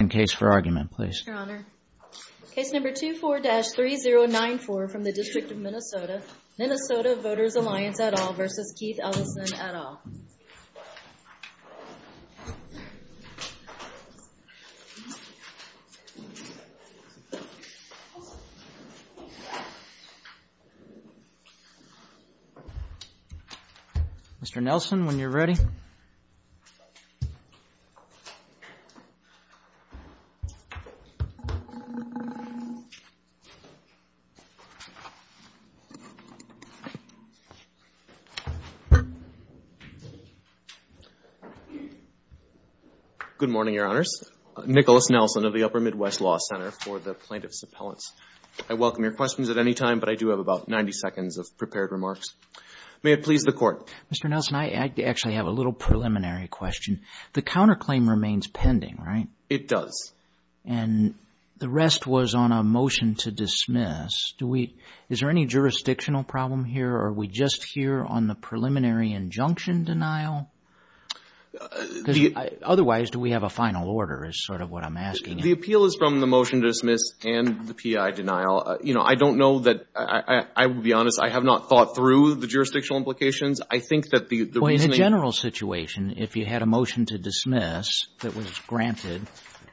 in case for argument please. Your Honor, case number 24-3094 from the District of Minnesota, Minnesota Voters Alliance et al. v. Keith Ellison et al. Mr. Nelson, when you're ready. Good morning, Your Honors. Nicholas Nelson of the Upper Midwest Law Center for the Plaintiff's Appellants. I welcome your questions at any time, but I do have about 90 seconds of prepared question. The counterclaim remains pending, right? It does. And the rest was on a motion to dismiss. Is there any jurisdictional problem here or are we just here on the preliminary injunction denial? Otherwise, do we have a final order is sort of what I'm asking. The appeal is from the motion to dismiss and the P.I. denial. You know, I don't know that, I will be honest, I have not thought through the jurisdictional implications. I think that the reasoning. Well, in a general situation, if you had a motion to dismiss that was granted,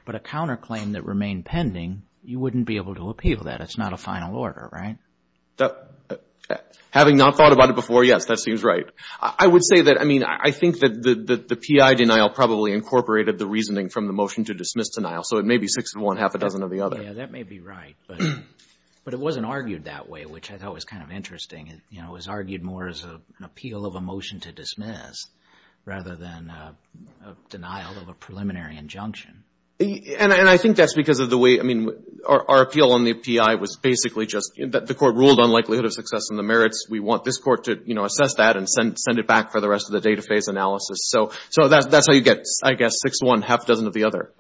but a counterclaim that remained pending, you wouldn't be able to appeal that. It's not a final order, right? Having not thought about it before, yes, that seems right. I would say that, I mean, I think that the P.I. denial probably incorporated the reasoning from the motion to dismiss denial. So it may be six of one, half a dozen of the other. Yeah, that may be right. But it wasn't argued that way, which I thought was kind of interesting. It was argued more as an appeal of a motion to dismiss rather than a denial of a preliminary injunction. And I think that's because of the way, I mean, our appeal on the P.I. was basically just that the Court ruled on likelihood of success and the merits. We want this Court to assess that and send it back for the rest of the data phase analysis. So that's how you get, I guess, six of one, half a dozen of the other.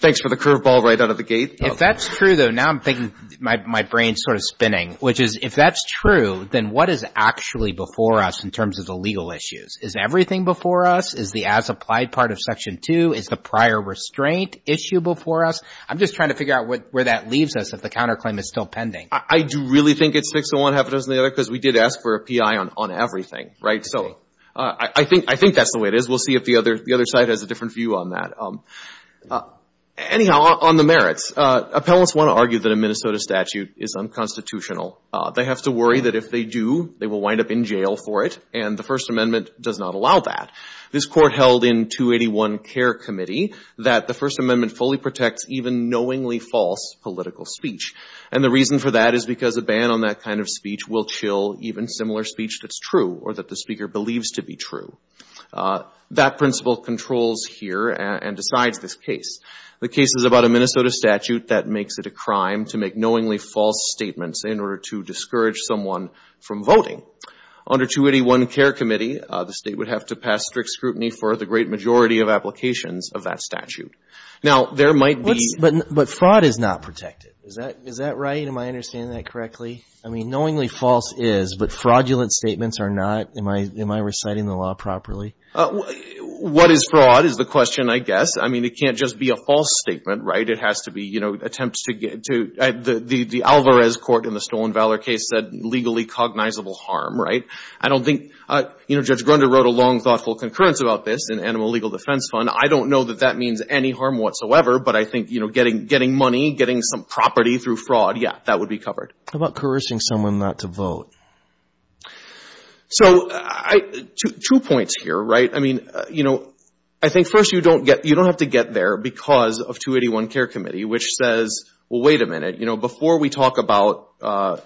Thanks for the curveball right out of the gate. If that's true, though, now I'm thinking my brain's sort of spinning, which is if that's true, then what is actually before us in terms of the legal issues? Is everything before us? Is the as-applied part of Section 2? Is the prior restraint issue before us? I'm just trying to figure out where that leaves us if the counterclaim is still pending. I do really think it's six of one, half a dozen of the other because we did ask for a P.I. on everything, right? So I think that's the way it is. We'll see if the other side has a different view on that. Anyhow, on the merits, appellants want to argue that a Minnesota statute is unconstitutional. They have to worry that if they do, they will wind up in jail for it, and the First Amendment does not allow that. This Court held in 281 Care Committee that the First Amendment fully protects even knowingly false political speech. And the reason for that is because a ban on that kind of speech will chill even similar speech that's true or that the speaker The case is about a Minnesota statute that makes it a crime to make knowingly false statements in order to discourage someone from voting. Under 281 Care Committee, the state would have to pass strict scrutiny for the great majority of applications of that statute. Now there might be... But fraud is not protected. Is that right? Am I understanding that correctly? I mean knowingly false is, but fraudulent statements are not? Am I reciting the law properly? What is fraud is the question, I guess. I mean it can't just be a false statement, right? It has to be, you know, attempts to get to... The Alvarez court in the Stolen Valor case said legally cognizable harm, right? I don't think... You know, Judge Grunder wrote a long thoughtful concurrence about this in Animal Legal Defense Fund. I don't know that that means any harm whatsoever, but I think, you know, getting money, getting some property through fraud, yeah, that would be covered. How about coercing someone not to vote? So, two points here, right? I mean, you know, I think first you don't have to get there because of 281 Care Committee, which says, well, wait a minute. You know, before we talk about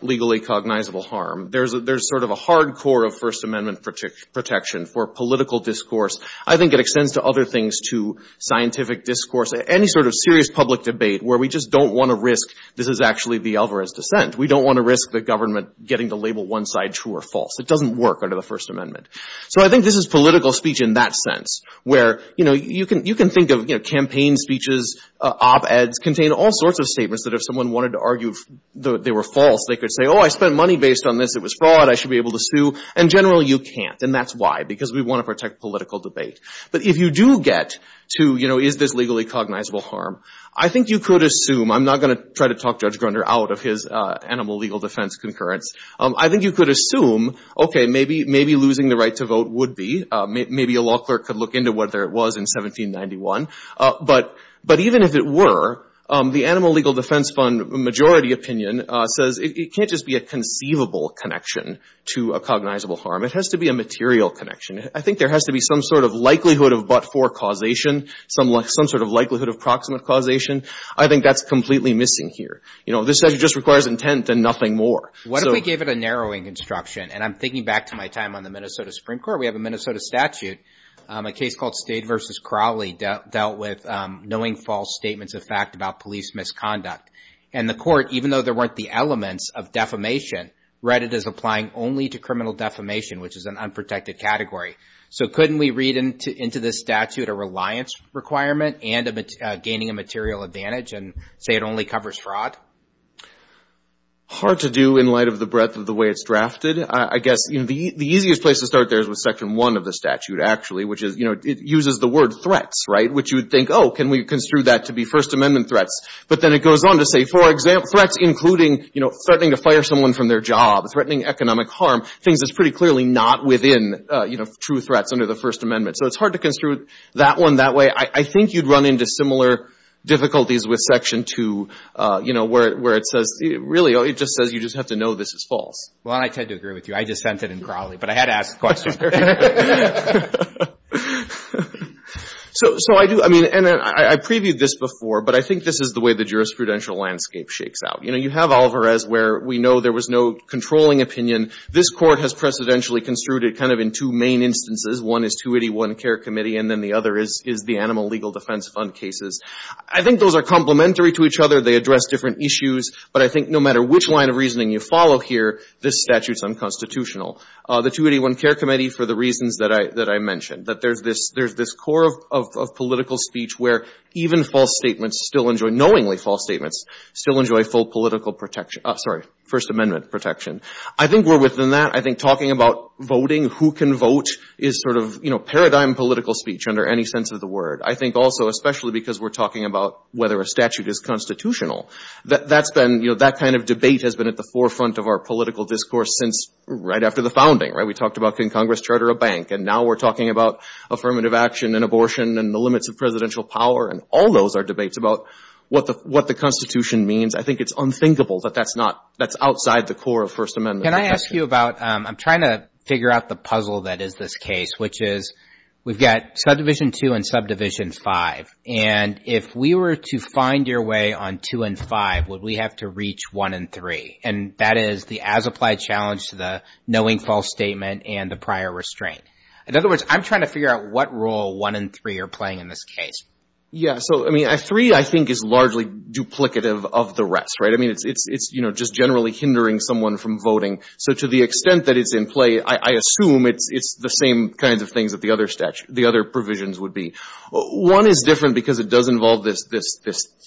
legally cognizable harm, there's sort of a hard core of First Amendment protection for political discourse. I think it extends to other things too, scientific discourse, any sort of serious public debate where we just don't want to risk this is actually the Alvarez dissent. We don't want to risk the government getting to label one side true or false. It doesn't work under the First Amendment. So I think this is political speech in that sense, where, you know, you can think of, you know, campaign speeches, op-eds contain all sorts of statements that if someone wanted to argue they were false, they could say, oh, I spent money based on this. It was fraud. I should be able to sue. And generally you can't, and that's why, because we want to protect political debate. But if you do get to, you know, is this legally cognizable harm, I think you could assume I'm not going to try to talk Judge Grunder out of his animal legal defense concurrence. I think you could assume, okay, maybe losing the right to vote would be. Maybe a law clerk could look into whether it was in 1791. But even if it were, the Animal Legal Defense Fund majority opinion says it can't just be a conceivable connection to a cognizable harm. It has to be a material connection. I think there has to be some sort of likelihood of but-for causation, some sort of likelihood of proximate causation. I think that's completely missing here. You know, this actually just requires intent and nothing more. What if we gave it a narrowing instruction? And I'm thinking back to my time on the Minnesota Supreme Court. We have a Minnesota statute, a case called State v. Crowley dealt with knowing false statements of fact about police misconduct. And the court, even though there weren't the elements of defamation, read it as applying only to criminal defamation, which is an unprotected category. So couldn't we read into this statute a reliance requirement and gaining a material advantage and say it only covers fraud? Hard to do in light of the breadth of the way it's drafted. I guess, you know, the easiest place to start there is with Section 1 of the statute, actually, which is, you know, it uses the word threats, right? Which you would think, oh, can we construe that to be First Amendment threats? But then it goes on to say, for example, threats including, you know, threatening to fire someone from their job, threatening economic harm, things that's pretty clearly not within, you know, true threats under the First Amendment. So it's hard to construe that one that way. I think you'd run into similar difficulties with Section 2, you know, where it says, really, it just says you just have to know this is Well, I tend to agree with you. I just sent it in Crowley. But I had to ask the question. So I do, I mean, and I previewed this before, but I think this is the way the jurisprudential landscape shakes out. You know, you have Olivares, where we know there was no controlling opinion. This Court has precedentially construed it kind of in two main instances. One is 281 Care Committee, and then the other is the Animal Legal Defense Fund cases. I think those are complementary to each other. They address different issues. But I think no matter which line of reasoning you follow here, this statute's unconstitutional. The 281 Care Committee, for the reasons that I mentioned, that there's this core of political speech where even false statements still enjoy, knowingly false statements, still enjoy full protection, sorry, First Amendment protection. I think we're within that. I think talking about voting, who can vote, is sort of, you know, paradigm political speech under any sense of the word. I think also, especially because we're talking about whether a statute is constitutional, that's been, you know, that kind of debate has been at the forefront of our political discourse since right after the founding, right? We talked about can Congress charter a bank, and now we're talking about affirmative action and abortion and the limits of presidential power, and all those are debates about what the Constitution means. I think it's unthinkable that that's not, that's outside the core of First Amendment protection. Can I ask you about, I'm trying to figure out the puzzle that is this case, which is we've got Subdivision 2 and Subdivision 5. And if we were to find your way on 2 and 5, would we have to reach 1 and 3? And that is the as-applied challenge to the knowing false statement and the prior restraint. In other words, I'm trying to figure out what role 1 and 3 are playing in this case. Yeah. So, I mean, 3, I think, is largely duplicative of the rest, right? I mean, it's, you know, just generally hindering someone from voting. So to the extent that it's in play, I assume it's the same kinds of things that the other provisions would be. One is different because it does involve this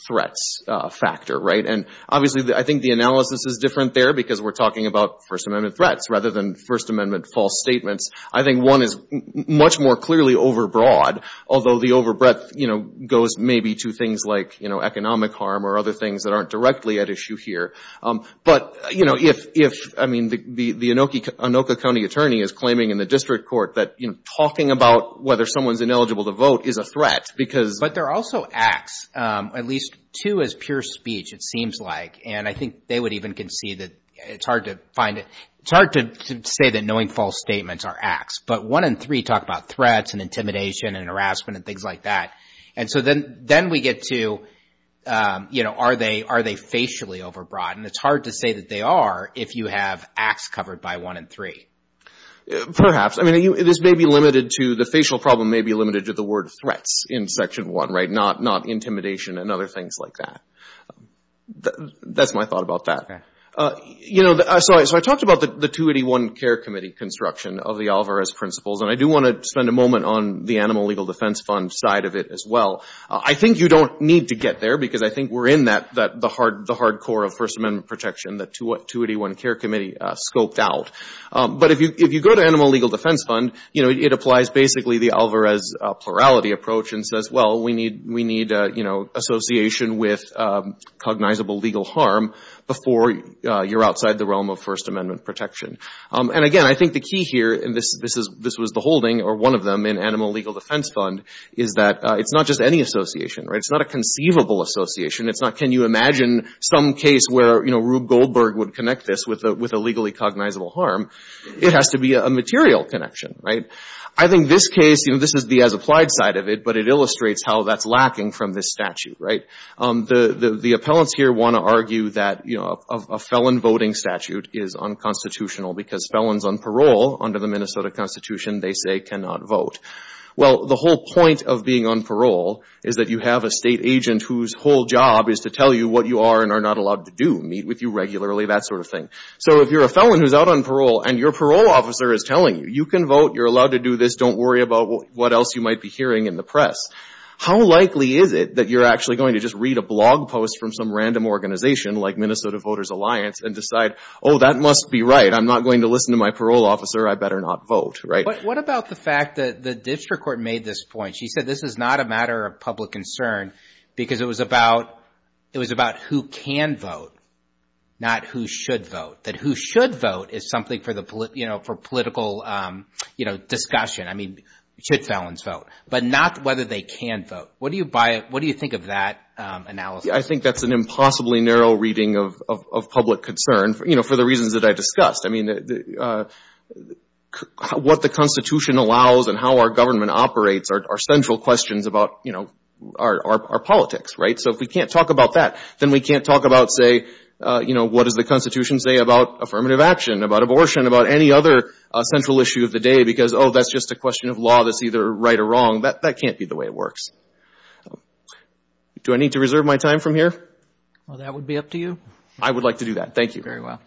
threats factor, right? And obviously, I think the analysis is different there because we're talking about First Amendment threats rather than First Amendment false statements. I think 1 is much more clearly overbroad, although the overbreadth, you know, goes maybe to things like, you know, economic harm or other things that aren't directly at issue here. But, you know, if, I mean, the Anoka County attorney is claiming in the district court that, you know, talking about whether someone's ineligible to vote is a threat because But there are also acts, at least 2 is pure speech, it seems like. And I think they would even concede that it's hard to find, it's hard to say that knowing false statements are acts. But 1 and 3 talk about threats and intimidation and harassment and things like that. And so then we get to, you know, are they facially overbroad? And it's hard to say that they are if you have acts covered by 1 and 3. Perhaps. I mean, this may be limited to, the facial problem may be limited to the word threats in Section 1, right? Not intimidation and other things like that. That's my thought about that. Okay. You know, so I talked about the 281 Care Committee construction of the Alvarez principles. And I do want to spend a moment on the Animal Legal Defense Fund side of it as well. I think you don't need to get there because I think we're in that, the hard core of First Amendment protection that 281 Care Committee scoped out. But if you go to Animal Legal Defense Fund, you know, it applies basically the Alvarez plurality approach and says, well, we need, you know, association with cognizable legal harm before you're outside the realm of First Amendment protection. And again, I think the key here, and this was the holding or one of them in Animal Legal Defense Fund, is that it's not just any association, right? It's not a conceivable association. It's not, can you imagine some case where, you know, Rube Goldberg would connect this with a legally cognizable harm. It has to be a material connection, right? I think this case, you know, this is the as-applied side of it, but it illustrates how that's lacking from this statute, right? The appellants here want to argue that, you know, a felon voting statute is unconstitutional because felons on parole under the Minnesota Constitution, they say cannot vote. Well, the whole point of being on parole is that you have a state agent whose whole job is to tell you what you are and are not allowed to do, meet with you regularly, that sort of thing. So if you're a felon who's out on parole and your parole officer is telling you, you can vote, you're allowed to do this, don't worry about what else you might be hearing in the press, how likely is it that you're actually going to just read a blog post from some random organization like Minnesota Voters Alliance and decide, oh, that must be right. I'm not going to listen to my parole officer. I better not vote, right? What about the fact that the district court made this point? She said this is not a matter of public concern because it was about, it was about who can vote, not who should vote, that who should vote is something for the, you know, for political, you know, discussion. I mean, should felons vote, but not whether they can vote. What do you buy, what do you think of that analysis? I think that's an impossibly narrow reading of public concern, you know, for the reasons that I discussed. I mean, what the Constitution allows and how our government operates are central questions about, you know, our politics, right? So if we can't talk about that, then we can't talk about, say, you know, what does the Constitution say about affirmative action, about abortion, about any other central issue of the day because, oh, that's just a question of law that's either right or wrong. That can't be the way it works. Do I need to reserve my time from here? Well, that would be up to you. I would like to do that. Thank you. Very well.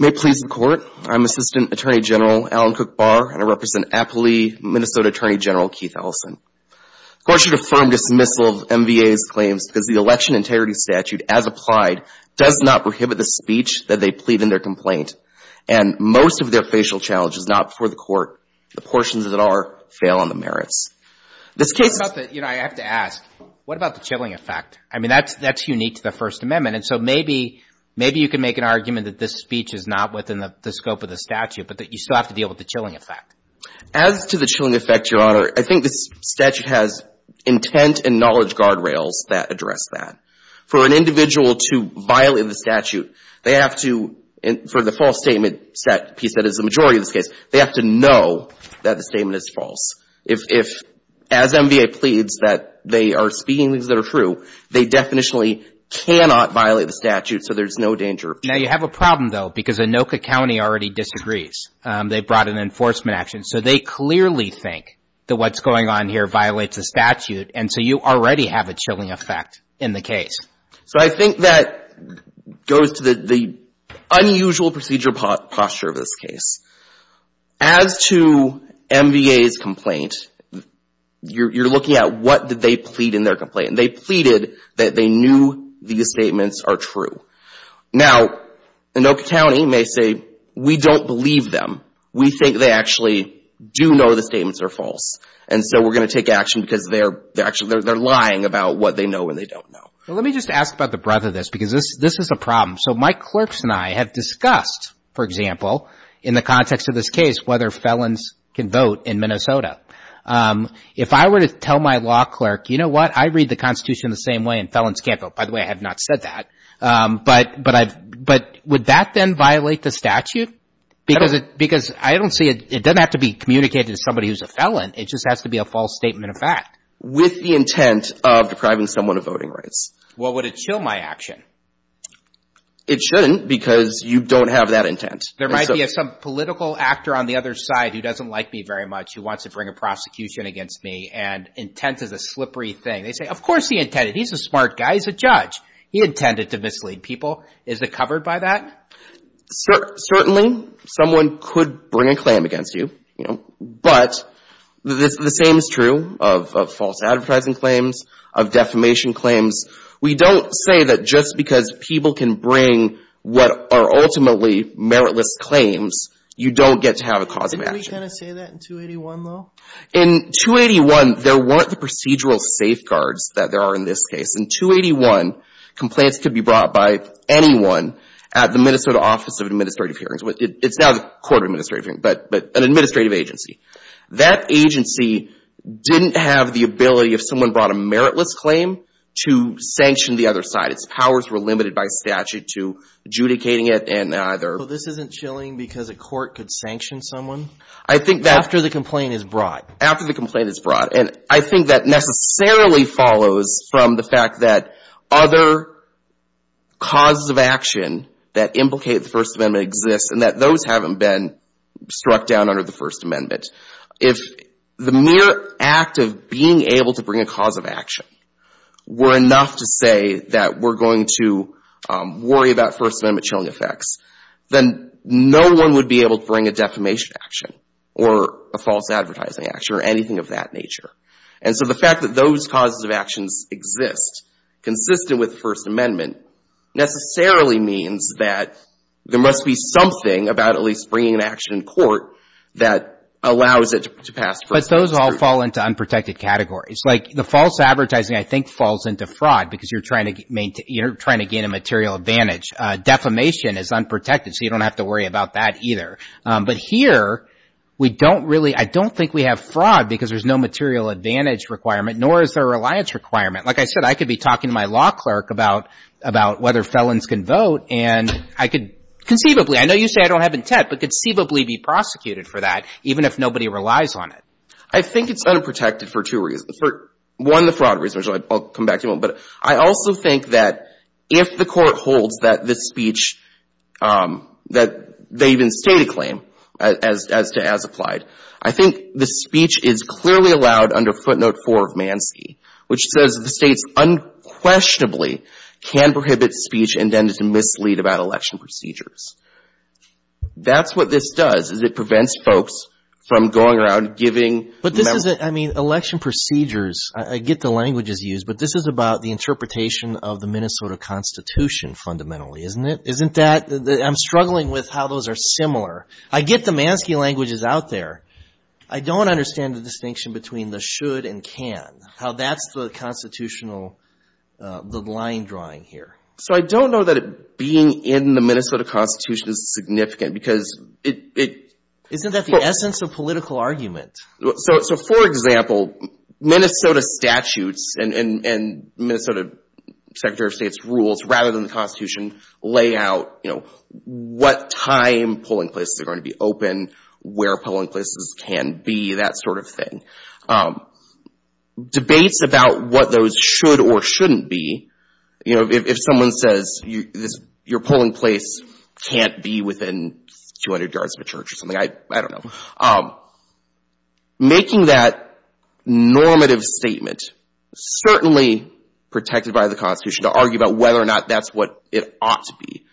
May it please the Court, I'm Assistant Attorney General Alan Cook Barr, and I represent aptly Minnesota Attorney General Keith Ellison. The Court should affirm dismissal of MVA's claims because the election integrity statute as applied does not prohibit the speech that they plead in their complaint, and most of their facial challenge is not before the Court. The portions that are fail on the merits. This case is You know, I have to ask, what about the chilling effect? I mean, that's unique to the First Amendment, and so maybe you can make an argument that this speech is not within the scope of the statute, but that you still have to deal with the chilling effect. As to the chilling effect, Your Honor, I think this statute has intent and knowledge guardrails that address that. For an individual to violate the statute, they have to, for the false statement set piece that is the majority of this case, they have to know that the statement is false. If, as MVA pleads that they are speaking things that are true, they definitely cannot violate the statute, so there's no danger. Now, you have a problem, though, because Anoka County already disagrees. They brought an enforcement action, so they clearly think that what's going on here violates the statute, and so you already have a chilling effect in the case. So I think that goes to the unusual procedure posture of this case. As to MVA's complaint, you're looking at what did they plead in their complaint. They pleaded that they knew these statements are true. Now, Anoka County may say, we don't believe them. We think they actually do know the statements are false, and so we're going to take action because they're lying about what they know and they don't know. Well, let me just ask about the breadth of this because this is a problem. So my clerks and I have discussed, for example, in the context of this case, whether felons can vote in Minnesota. If I were to tell my law clerk, you know what, I read the Constitution the same way, and felons can't vote. By the way, I have not said that. But would that then violate the statute? Because I don't see it. It doesn't have to be communicated to somebody who's a felon. It just has to be a false statement of fact. With the intent of depriving someone of voting rights. Well, would it chill my action? It shouldn't because you don't have that intent. There might be some political actor on the other side who doesn't like me very much who wants to bring a prosecution against me, and intent is a slippery thing. They say, of course he intended. He's a smart guy. He's a judge. He intended to mislead people. Is it covered by that? Certainly, someone could bring a claim against you, you know, but the same is true of false advertising claims, of defamation claims. We don't say that just because people can bring what are ultimately meritless claims, you don't get to have a cause of action. Didn't we kind of say that in 281, though? In 281, there weren't the procedural safeguards that there are in this case. In 281, complaints could be brought by anyone at the Minnesota Office of Administrative Hearings. It's now the Court of Administrative Hearings, but an administrative agency. That agency didn't have the ability, if someone brought a meritless claim, to sanction the other side. Its powers were limited by statute to adjudicating it, and either... So this isn't chilling because a court could sanction someone after the complaint is brought? After the complaint is brought, and I think that necessarily follows from the fact that other causes of action that implicate the First Amendment exist and that those haven't been struck down under the First Amendment. If the mere act of being able to bring a cause of action were enough to say that we're going to worry about First Amendment chilling effects, then no one would be able to bring a defamation action or a false advertising action or anything of that nature. So the fact that those causes of actions exist, consistent with the First Amendment, necessarily means that there must be something about at least bringing an action in court that allows it to pass... But those all fall into unprotected categories. The false advertising, I think, falls into fraud because you're trying to gain a material advantage. Defamation is unprotected, so you don't have to worry about that either. But here, I don't think we have fraud because there's no material advantage requirement, nor is there a reliance requirement. Like I said, I could be talking to my law clerk about whether felons can vote, and I could conceivably — I know you say I don't have intent, but I could conceivably be prosecuted for that, even if nobody relies on it. I think it's unprotected for two reasons. For one, the fraud reason, which I'll come back to in a moment. But I also think that if the Court holds that this speech, that they even state a claim as to as applied, I think the speech is clearly allowed under Footnote 4 of Manski, which says the States unquestionably can prohibit speech intended to mislead about election procedures. That's what this does, is it prevents folks from going around giving... But this is a — I mean, election procedures, I get the languages used, but this is about the interpretation of the Minnesota Constitution, fundamentally, isn't it? Isn't that — I'm struggling with how those are similar. I get the Manski languages out there. I don't understand the distinction between the should and can, how that's the constitutional, the line drawing here. So I don't know that being in the Minnesota Constitution is significant, because it... Isn't that the essence of political argument? So, for example, Minnesota statutes and Minnesota Secretary of State's rules, rather than the Constitution, lay out, you know, what time polling places are going to be open, where polling places can be, that sort of thing. Debates about what those should or shouldn't be, you know, if someone says your polling place can't be within 200 yards of a church or something, I don't know. Making that normative statement, certainly protected by the Constitution to argue about whether or not that's what it ought to be.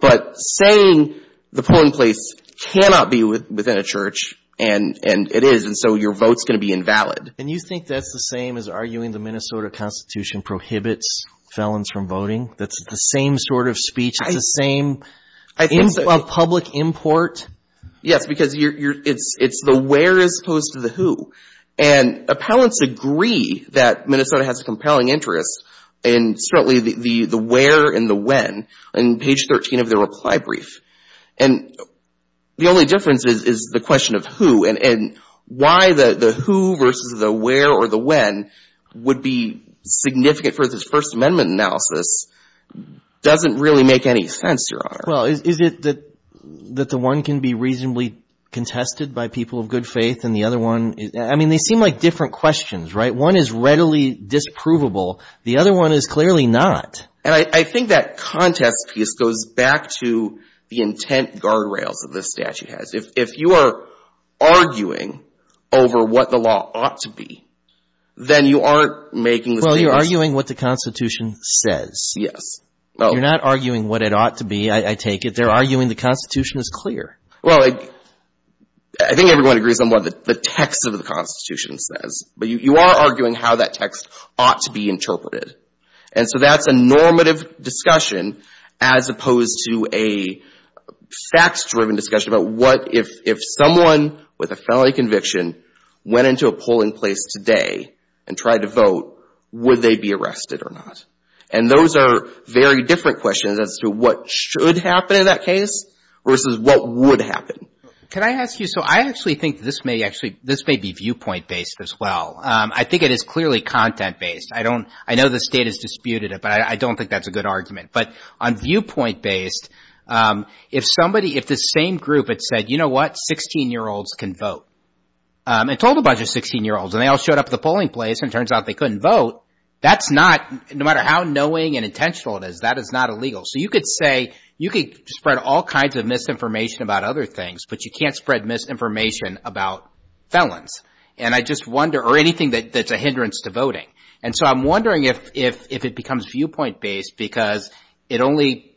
But saying the polling place cannot be within a church, and it is, and so your vote's going to be invalid. And you think that's the same as arguing the Minnesota Constitution prohibits felons from voting? That's the same sort of speech? It's the same public import? Yes, because it's the where as opposed to the who. And appellants agree that Minnesota has a compelling interest in certainly the where and the when on page 13 of the reply brief. And the only difference is the question of who and why the who versus the where or the when would be significant for this First Amendment analysis doesn't really make any sense, Your Honor. Well, is it that the one can be reasonably contested by people of good faith and the one, I mean, they seem like different questions, right? One is readily disprovable. The other one is clearly not. And I think that contest piece goes back to the intent guardrails that this statute has. If you are arguing over what the law ought to be, then you aren't making the same Well, you're arguing what the Constitution says. Yes. You're not arguing what it ought to be, I take it. They're arguing the Constitution is clear. Well, I think everyone agrees on what the text of the Constitution says. But you are arguing how that text ought to be interpreted. And so that's a normative discussion as opposed to a facts-driven discussion about what if someone with a felony conviction went into a polling place today and tried to vote, would they be arrested or not? And those are very different questions as to what should happen in that case versus what would happen. Can I ask you, so I actually think this may be viewpoint-based as well. I think it is clearly content-based. I know the state has disputed it, but I don't think that's a good argument. But on viewpoint-based, if the same group had said, you know what, 16-year-olds can vote, and told a bunch of 16-year-olds and they all showed up at the polling place and it turns out they couldn't vote, that's not, no matter how knowing and intentional it is, that is not illegal. So you could say, you could spread all kinds of misinformation about other things, but you can't spread misinformation about felons, or anything that's a hindrance to voting. And so I'm wondering if it becomes viewpoint-based because it only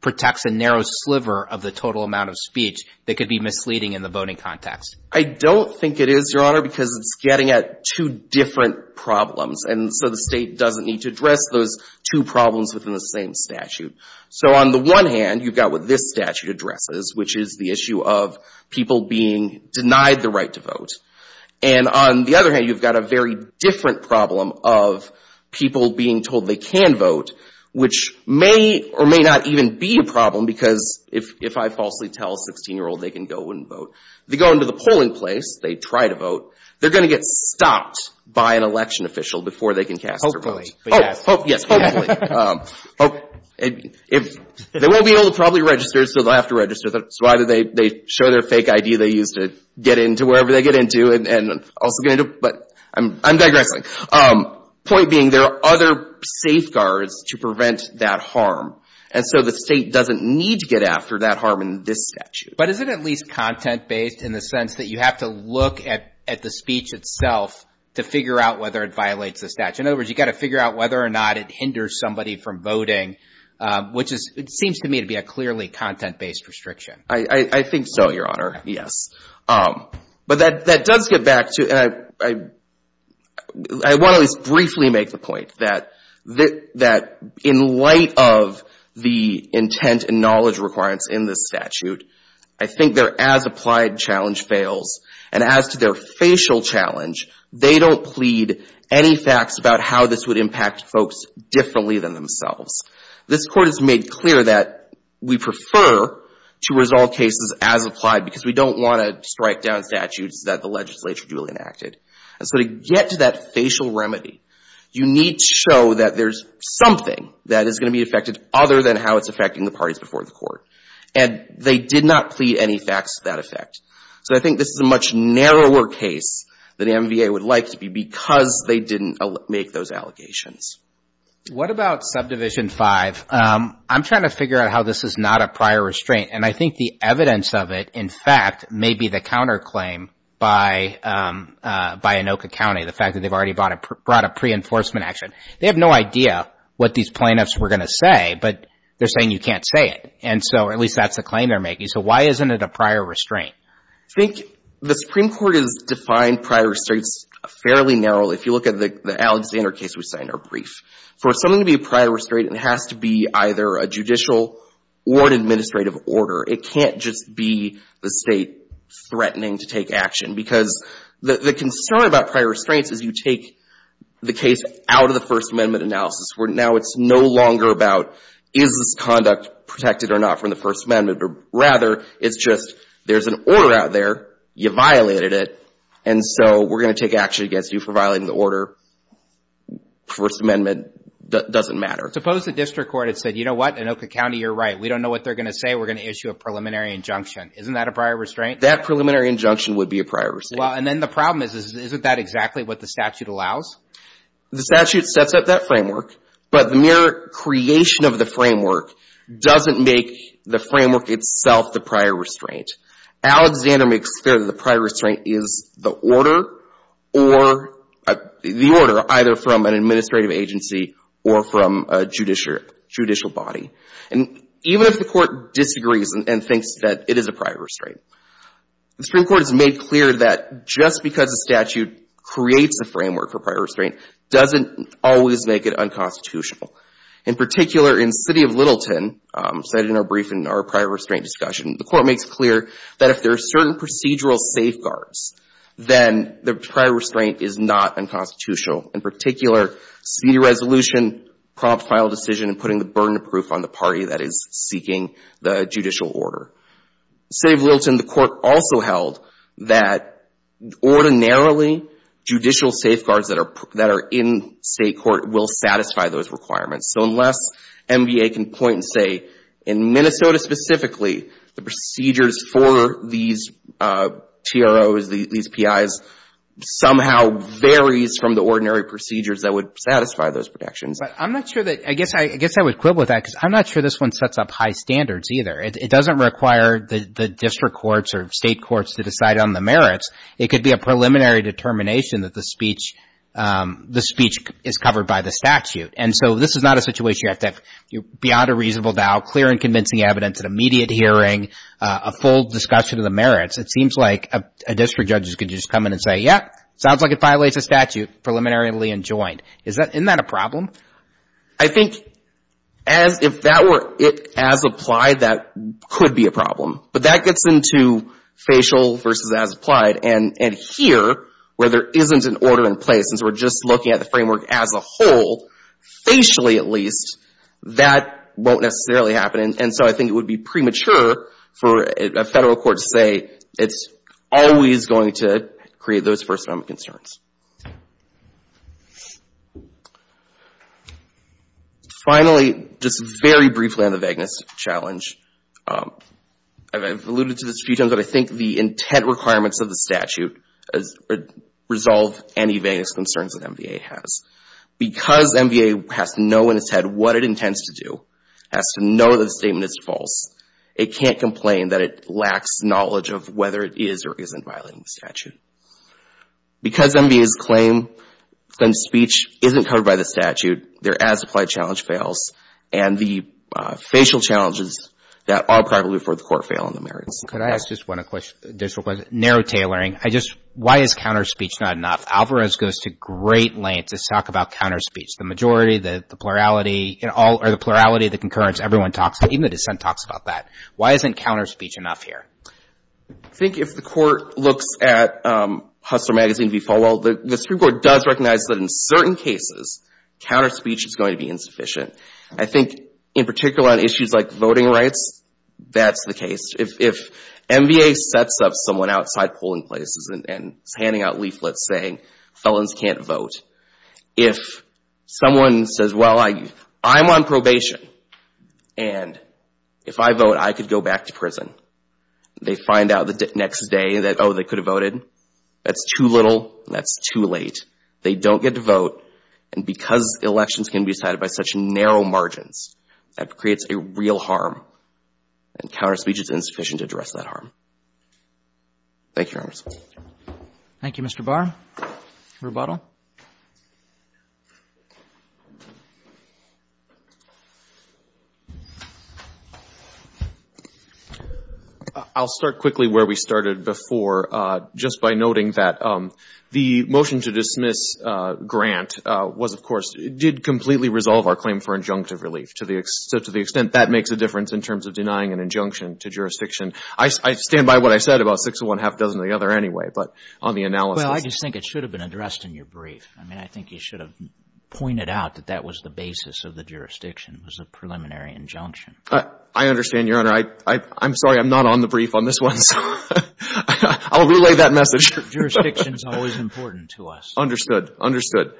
protects a narrow sliver of the total amount of speech that could be misleading in the voting context. I don't think it is, Your Honor, because it's getting at two different problems. And so the state doesn't need to address those two problems within the same statute. So on the one hand, you've got what this statute addresses, which is the issue of people being denied the right to vote. And on the other hand, you've got a very different problem of people being told they can vote, which may or may not even be a problem because if I falsely tell a 16-year-old they can go and vote, they go into the polling place, they try to vote, they're going to get stopped by an election official before they can cast their vote. Yes, hopefully. They won't be able to probably register, so they'll have to register. So either they show their fake ID they used to get into wherever they get into, and also get into, but I'm digressing. Point being, there are other safeguards to prevent that harm. And so the state doesn't need to get after that harm in this statute. But is it at least content-based in the sense that you have to look at the speech itself to figure out whether it violates the statute? In other words, you've got to figure out whether or not it hinders somebody from voting, which seems to me to be a clearly content-based restriction. I think so, Your Honor. Yes. But that does get back to, and I want to at least briefly make the point that in light of the intent and knowledge requirements in this statute, I think their as-applied challenge fails. And as to their facial challenge, they don't plead any facts about how this would impact folks differently than themselves. This Court has made clear that we prefer to resolve cases as-applied because we don't want to strike down statutes that the legislature duly enacted. And so to get to that facial remedy, you need to show that there's something that is going to be affected other than how it's affecting the parties before the Court. And they did not plead any facts to that effect. So I think this is a much narrower case than the MVA would like to be because they didn't make those allegations. What about Subdivision 5? I'm trying to figure out how this is not a prior restraint. And I think the evidence of it, in fact, may be the counterclaim by Anoka County, the fact that they've already brought a pre-enforcement action. They have no idea what these plaintiffs were going to say, but they're saying you can't say it. And so at least that's a claim they're making. So why isn't it a prior restraint? I think the Supreme Court has defined prior restraints fairly narrowly. If you look at the Alexander case we saw in our brief, for something to be a prior restraint, it has to be either a judicial or an administrative order. It can't just be the state threatening to take action because the concern about prior restraints is you take the case out of the First Amendment analysis where now it's no longer about is this conduct protected or not from the First Amendment, but rather it's just there's an order out there, you violated it, and so we're going to take action against you for violating the order. First Amendment doesn't matter. Suppose the district court had said, you know what, Anoka County, you're right. We don't know what they're going to say. We're going to issue a preliminary injunction. Isn't that a prior restraint? That preliminary injunction would be a prior restraint. And then the problem is, isn't that exactly what the statute allows? The statute sets up that framework, but the mere creation of the framework doesn't make the framework itself the prior restraint. Alexander makes clear that the prior restraint is the order or the order either from an administrative agency or from a judicial body. And even if the Court disagrees and thinks that it is a prior restraint, the Supreme Court has made clear that just because the statute creates a framework for prior restraint doesn't always make it unconstitutional. In particular, in City of Littleton, cited in our brief in our prior restraint discussion, the Court makes clear that if there are certain procedural safeguards, then the prior restraint is not unconstitutional. In particular, city resolution, prompt final decision, and putting the burden of proof on the party that is seeking the judicial order. City of Littleton, the Court also held that ordinarily judicial safeguards that are in state court will satisfy those requirements. So unless NBA can point and say, in Minnesota specifically, the procedures for these TROs, these PIs, somehow varies from the ordinary procedures that would satisfy those protections. But I'm not sure that, I guess I would quibble with that because I'm not sure this one sets up high standards either. It doesn't require the district courts or state courts to decide on the merits. It could be a preliminary determination that the speech is covered by the statute. And so this is not a situation where you have to, beyond a reasonable doubt, clear and convincing evidence at immediate hearing, a full discussion of the merits. It seems like a district judge is going to just come in and say, yeah, sounds like it violates the statute, preliminarily enjoined. Isn't that a problem? I think as, if that were it as applied, that could be a problem. But that gets into facial versus as applied. And here, where there isn't an order in place, since we're just looking at the framework as a whole, facially at least, that won't necessarily happen. And so I think it would be premature for a federal court to say it's always going to create those first common concerns. Finally, just very briefly on the vagueness challenge, I've alluded to this a few times but I think the intent requirements of the statute resolve any vagueness concerns that MVA has. Because MVA has to know in its head what it intends to do, has to know that the statement is false, it can't complain that it lacks knowledge of whether it is or isn't violating the statute. Because MVA's claim that speech isn't covered by the statute, their as applied challenge fails and the facial challenges that are probably for the court fail on the merits. Could I ask just one additional question? Narrow tailoring. I just, why is counterspeech not enough? Alvarez goes to great lengths to talk about counterspeech. The majority, the plurality in all, or the plurality, the concurrence, everyone talks, even the dissent talks about that. Why isn't counterspeech enough here? I think if the court looks at Hustler Magazine v. Falwell, the Supreme Court does recognize that in certain cases, counterspeech is going to be insufficient. I think in particular on issues like voting rights, that's the case. If MVA sets up someone outside polling places and is handing out leaflets saying felons can't vote, if someone says, well, I'm on the ballot, they find out the next day that, oh, they could have voted, that's too little, that's too late. They don't get to vote. And because elections can be decided by such narrow margins, that creates a real harm. And counterspeech is insufficient to address that harm. Thank you, Your Honors. Thank you, Mr. Barr. Rebuttal. I'll start quickly where we started before, just by noting that the motion to dismiss Grant was, of course, did completely resolve our claim for injunctive relief, to the extent that makes a difference in terms of denying an injunction to jurisdiction. I stand by what I said about six of one, half a dozen of the other anyway, but on the analysis Well, I just think it should have been addressed in your brief. I mean, I think you should have pointed out that that was the basis of the jurisdiction, was a preliminary injunction. I understand, Your Honor. I'm sorry, I'm not on the brief on this one, so I'll relay that message. Jurisdiction is always important to us. Understood. Understood.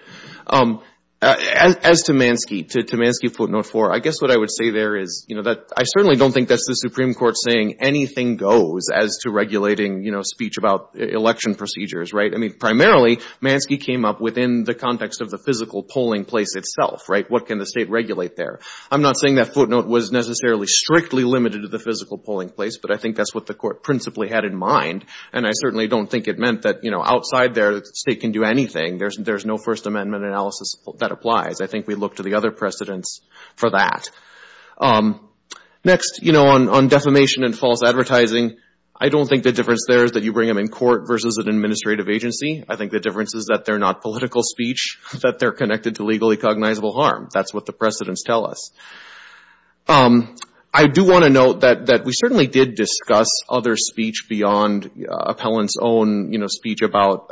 As to Manske, to Manske footnote four, I guess what I would say there is that I certainly don't think that's the Supreme Court saying anything goes as to regulating speech about election procedures, right? I mean, primarily, Manske came up within the context of the physical polling place itself, right? What can the State regulate there? I'm not saying that footnote was necessarily strictly limited to the physical polling place, but I think that's what the Court principally had in mind, and I certainly don't think it meant that outside there, the State can do anything. There's no First Amendment analysis that applies. I think we look to the other precedents for that. Next, you know, on defamation and false advertising, I don't think the difference there is that you bring them in court versus an administrative agency. I think the difference is that they're not political speech, that they're connected to legally cognizable harm. That's what the precedents tell us. I do want to note that we certainly did discuss other speech beyond appellant's own, you know, speech about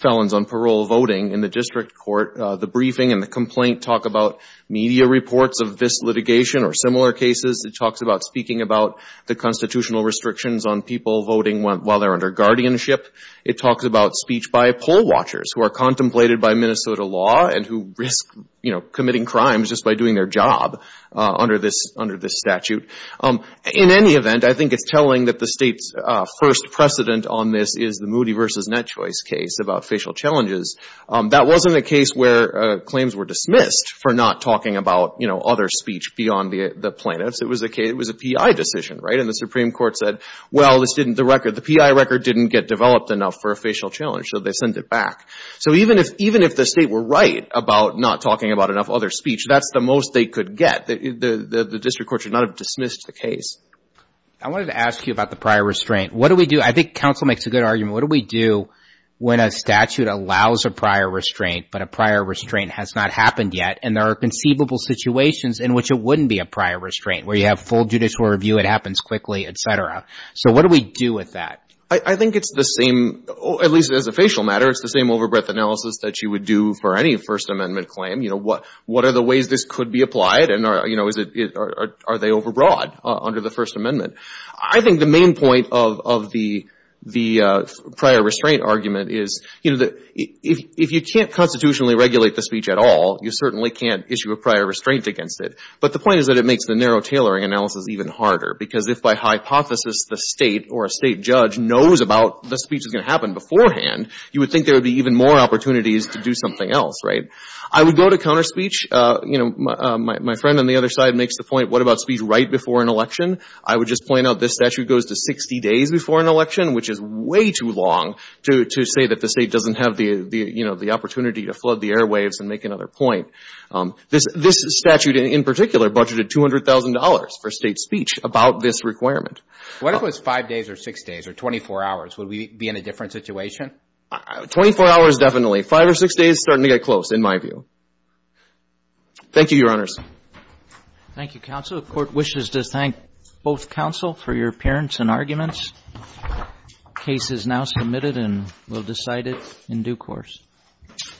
felons on parole voting in the district court. The briefing and the complaint talk about media reports of this litigation or similar cases. It talks about speaking about the constitutional restrictions on people voting while they're under guardianship. It talks about speech by poll watchers who are contemplated by Minnesota law and who risk, you know, committing crimes just by doing their job under this statute. In any event, I think it's telling that the State's first precedent on this is the Moody v. Netchoice case about facial challenges. That wasn't a case where claims were dismissed for not talking about, you know, other speech beyond the plaintiff's. It was a case, it was a PI decision, right? And the Supreme Court said, well, this didn't, the record, the PI record didn't get developed enough for a facial challenge, so they sent it back. So even if the State were right about not talking about enough other speech, that's the most they could get. The district court should not have dismissed the case. I wanted to ask you about the prior restraint. What do we do? I think counsel makes a good argument. What do we do when a statute allows a prior restraint, but a prior restraint has not happened yet, and there are conceivable situations in which it wouldn't be a prior restraint, where you have full judicial review, it happens quickly, et cetera. So what do we do with that? I think it's the same, at least as a facial matter, it's the same overbreadth analysis that you would do for any First Amendment claim. You know, what are the ways this could be applied and, you know, are they overbroad under the First Amendment? I think the main point of the prior restraint argument is, you know, if you can't constitutionally regulate the speech at all, you certainly can't issue a prior restraint against it. But the point is that it makes the narrow tailoring analysis even harder, because if by hypothesis the State or a State judge knows about the speech that's going to happen beforehand, you would think there would be even more opportunities to do something else, right? I would go to counter speech. You know, my friend on the other side makes the point, what about speech right before an election? I would just point out this statute goes to 60 days before an election, which is way too long to say that the State doesn't have the, you know, the opportunity to flood the airwaves and make another point. This statute in particular budgeted $200,000 for State speech about this requirement. What if it was 5 days or 6 days or 24 hours? Would we be in a different situation? Twenty-four hours, definitely. Five or six days, starting to get close, in my view. Thank you, Your Honors. Thank you, counsel. The Court wishes to thank both counsel for your appearance and arguments. The case is now submitted and we'll decide it in due course.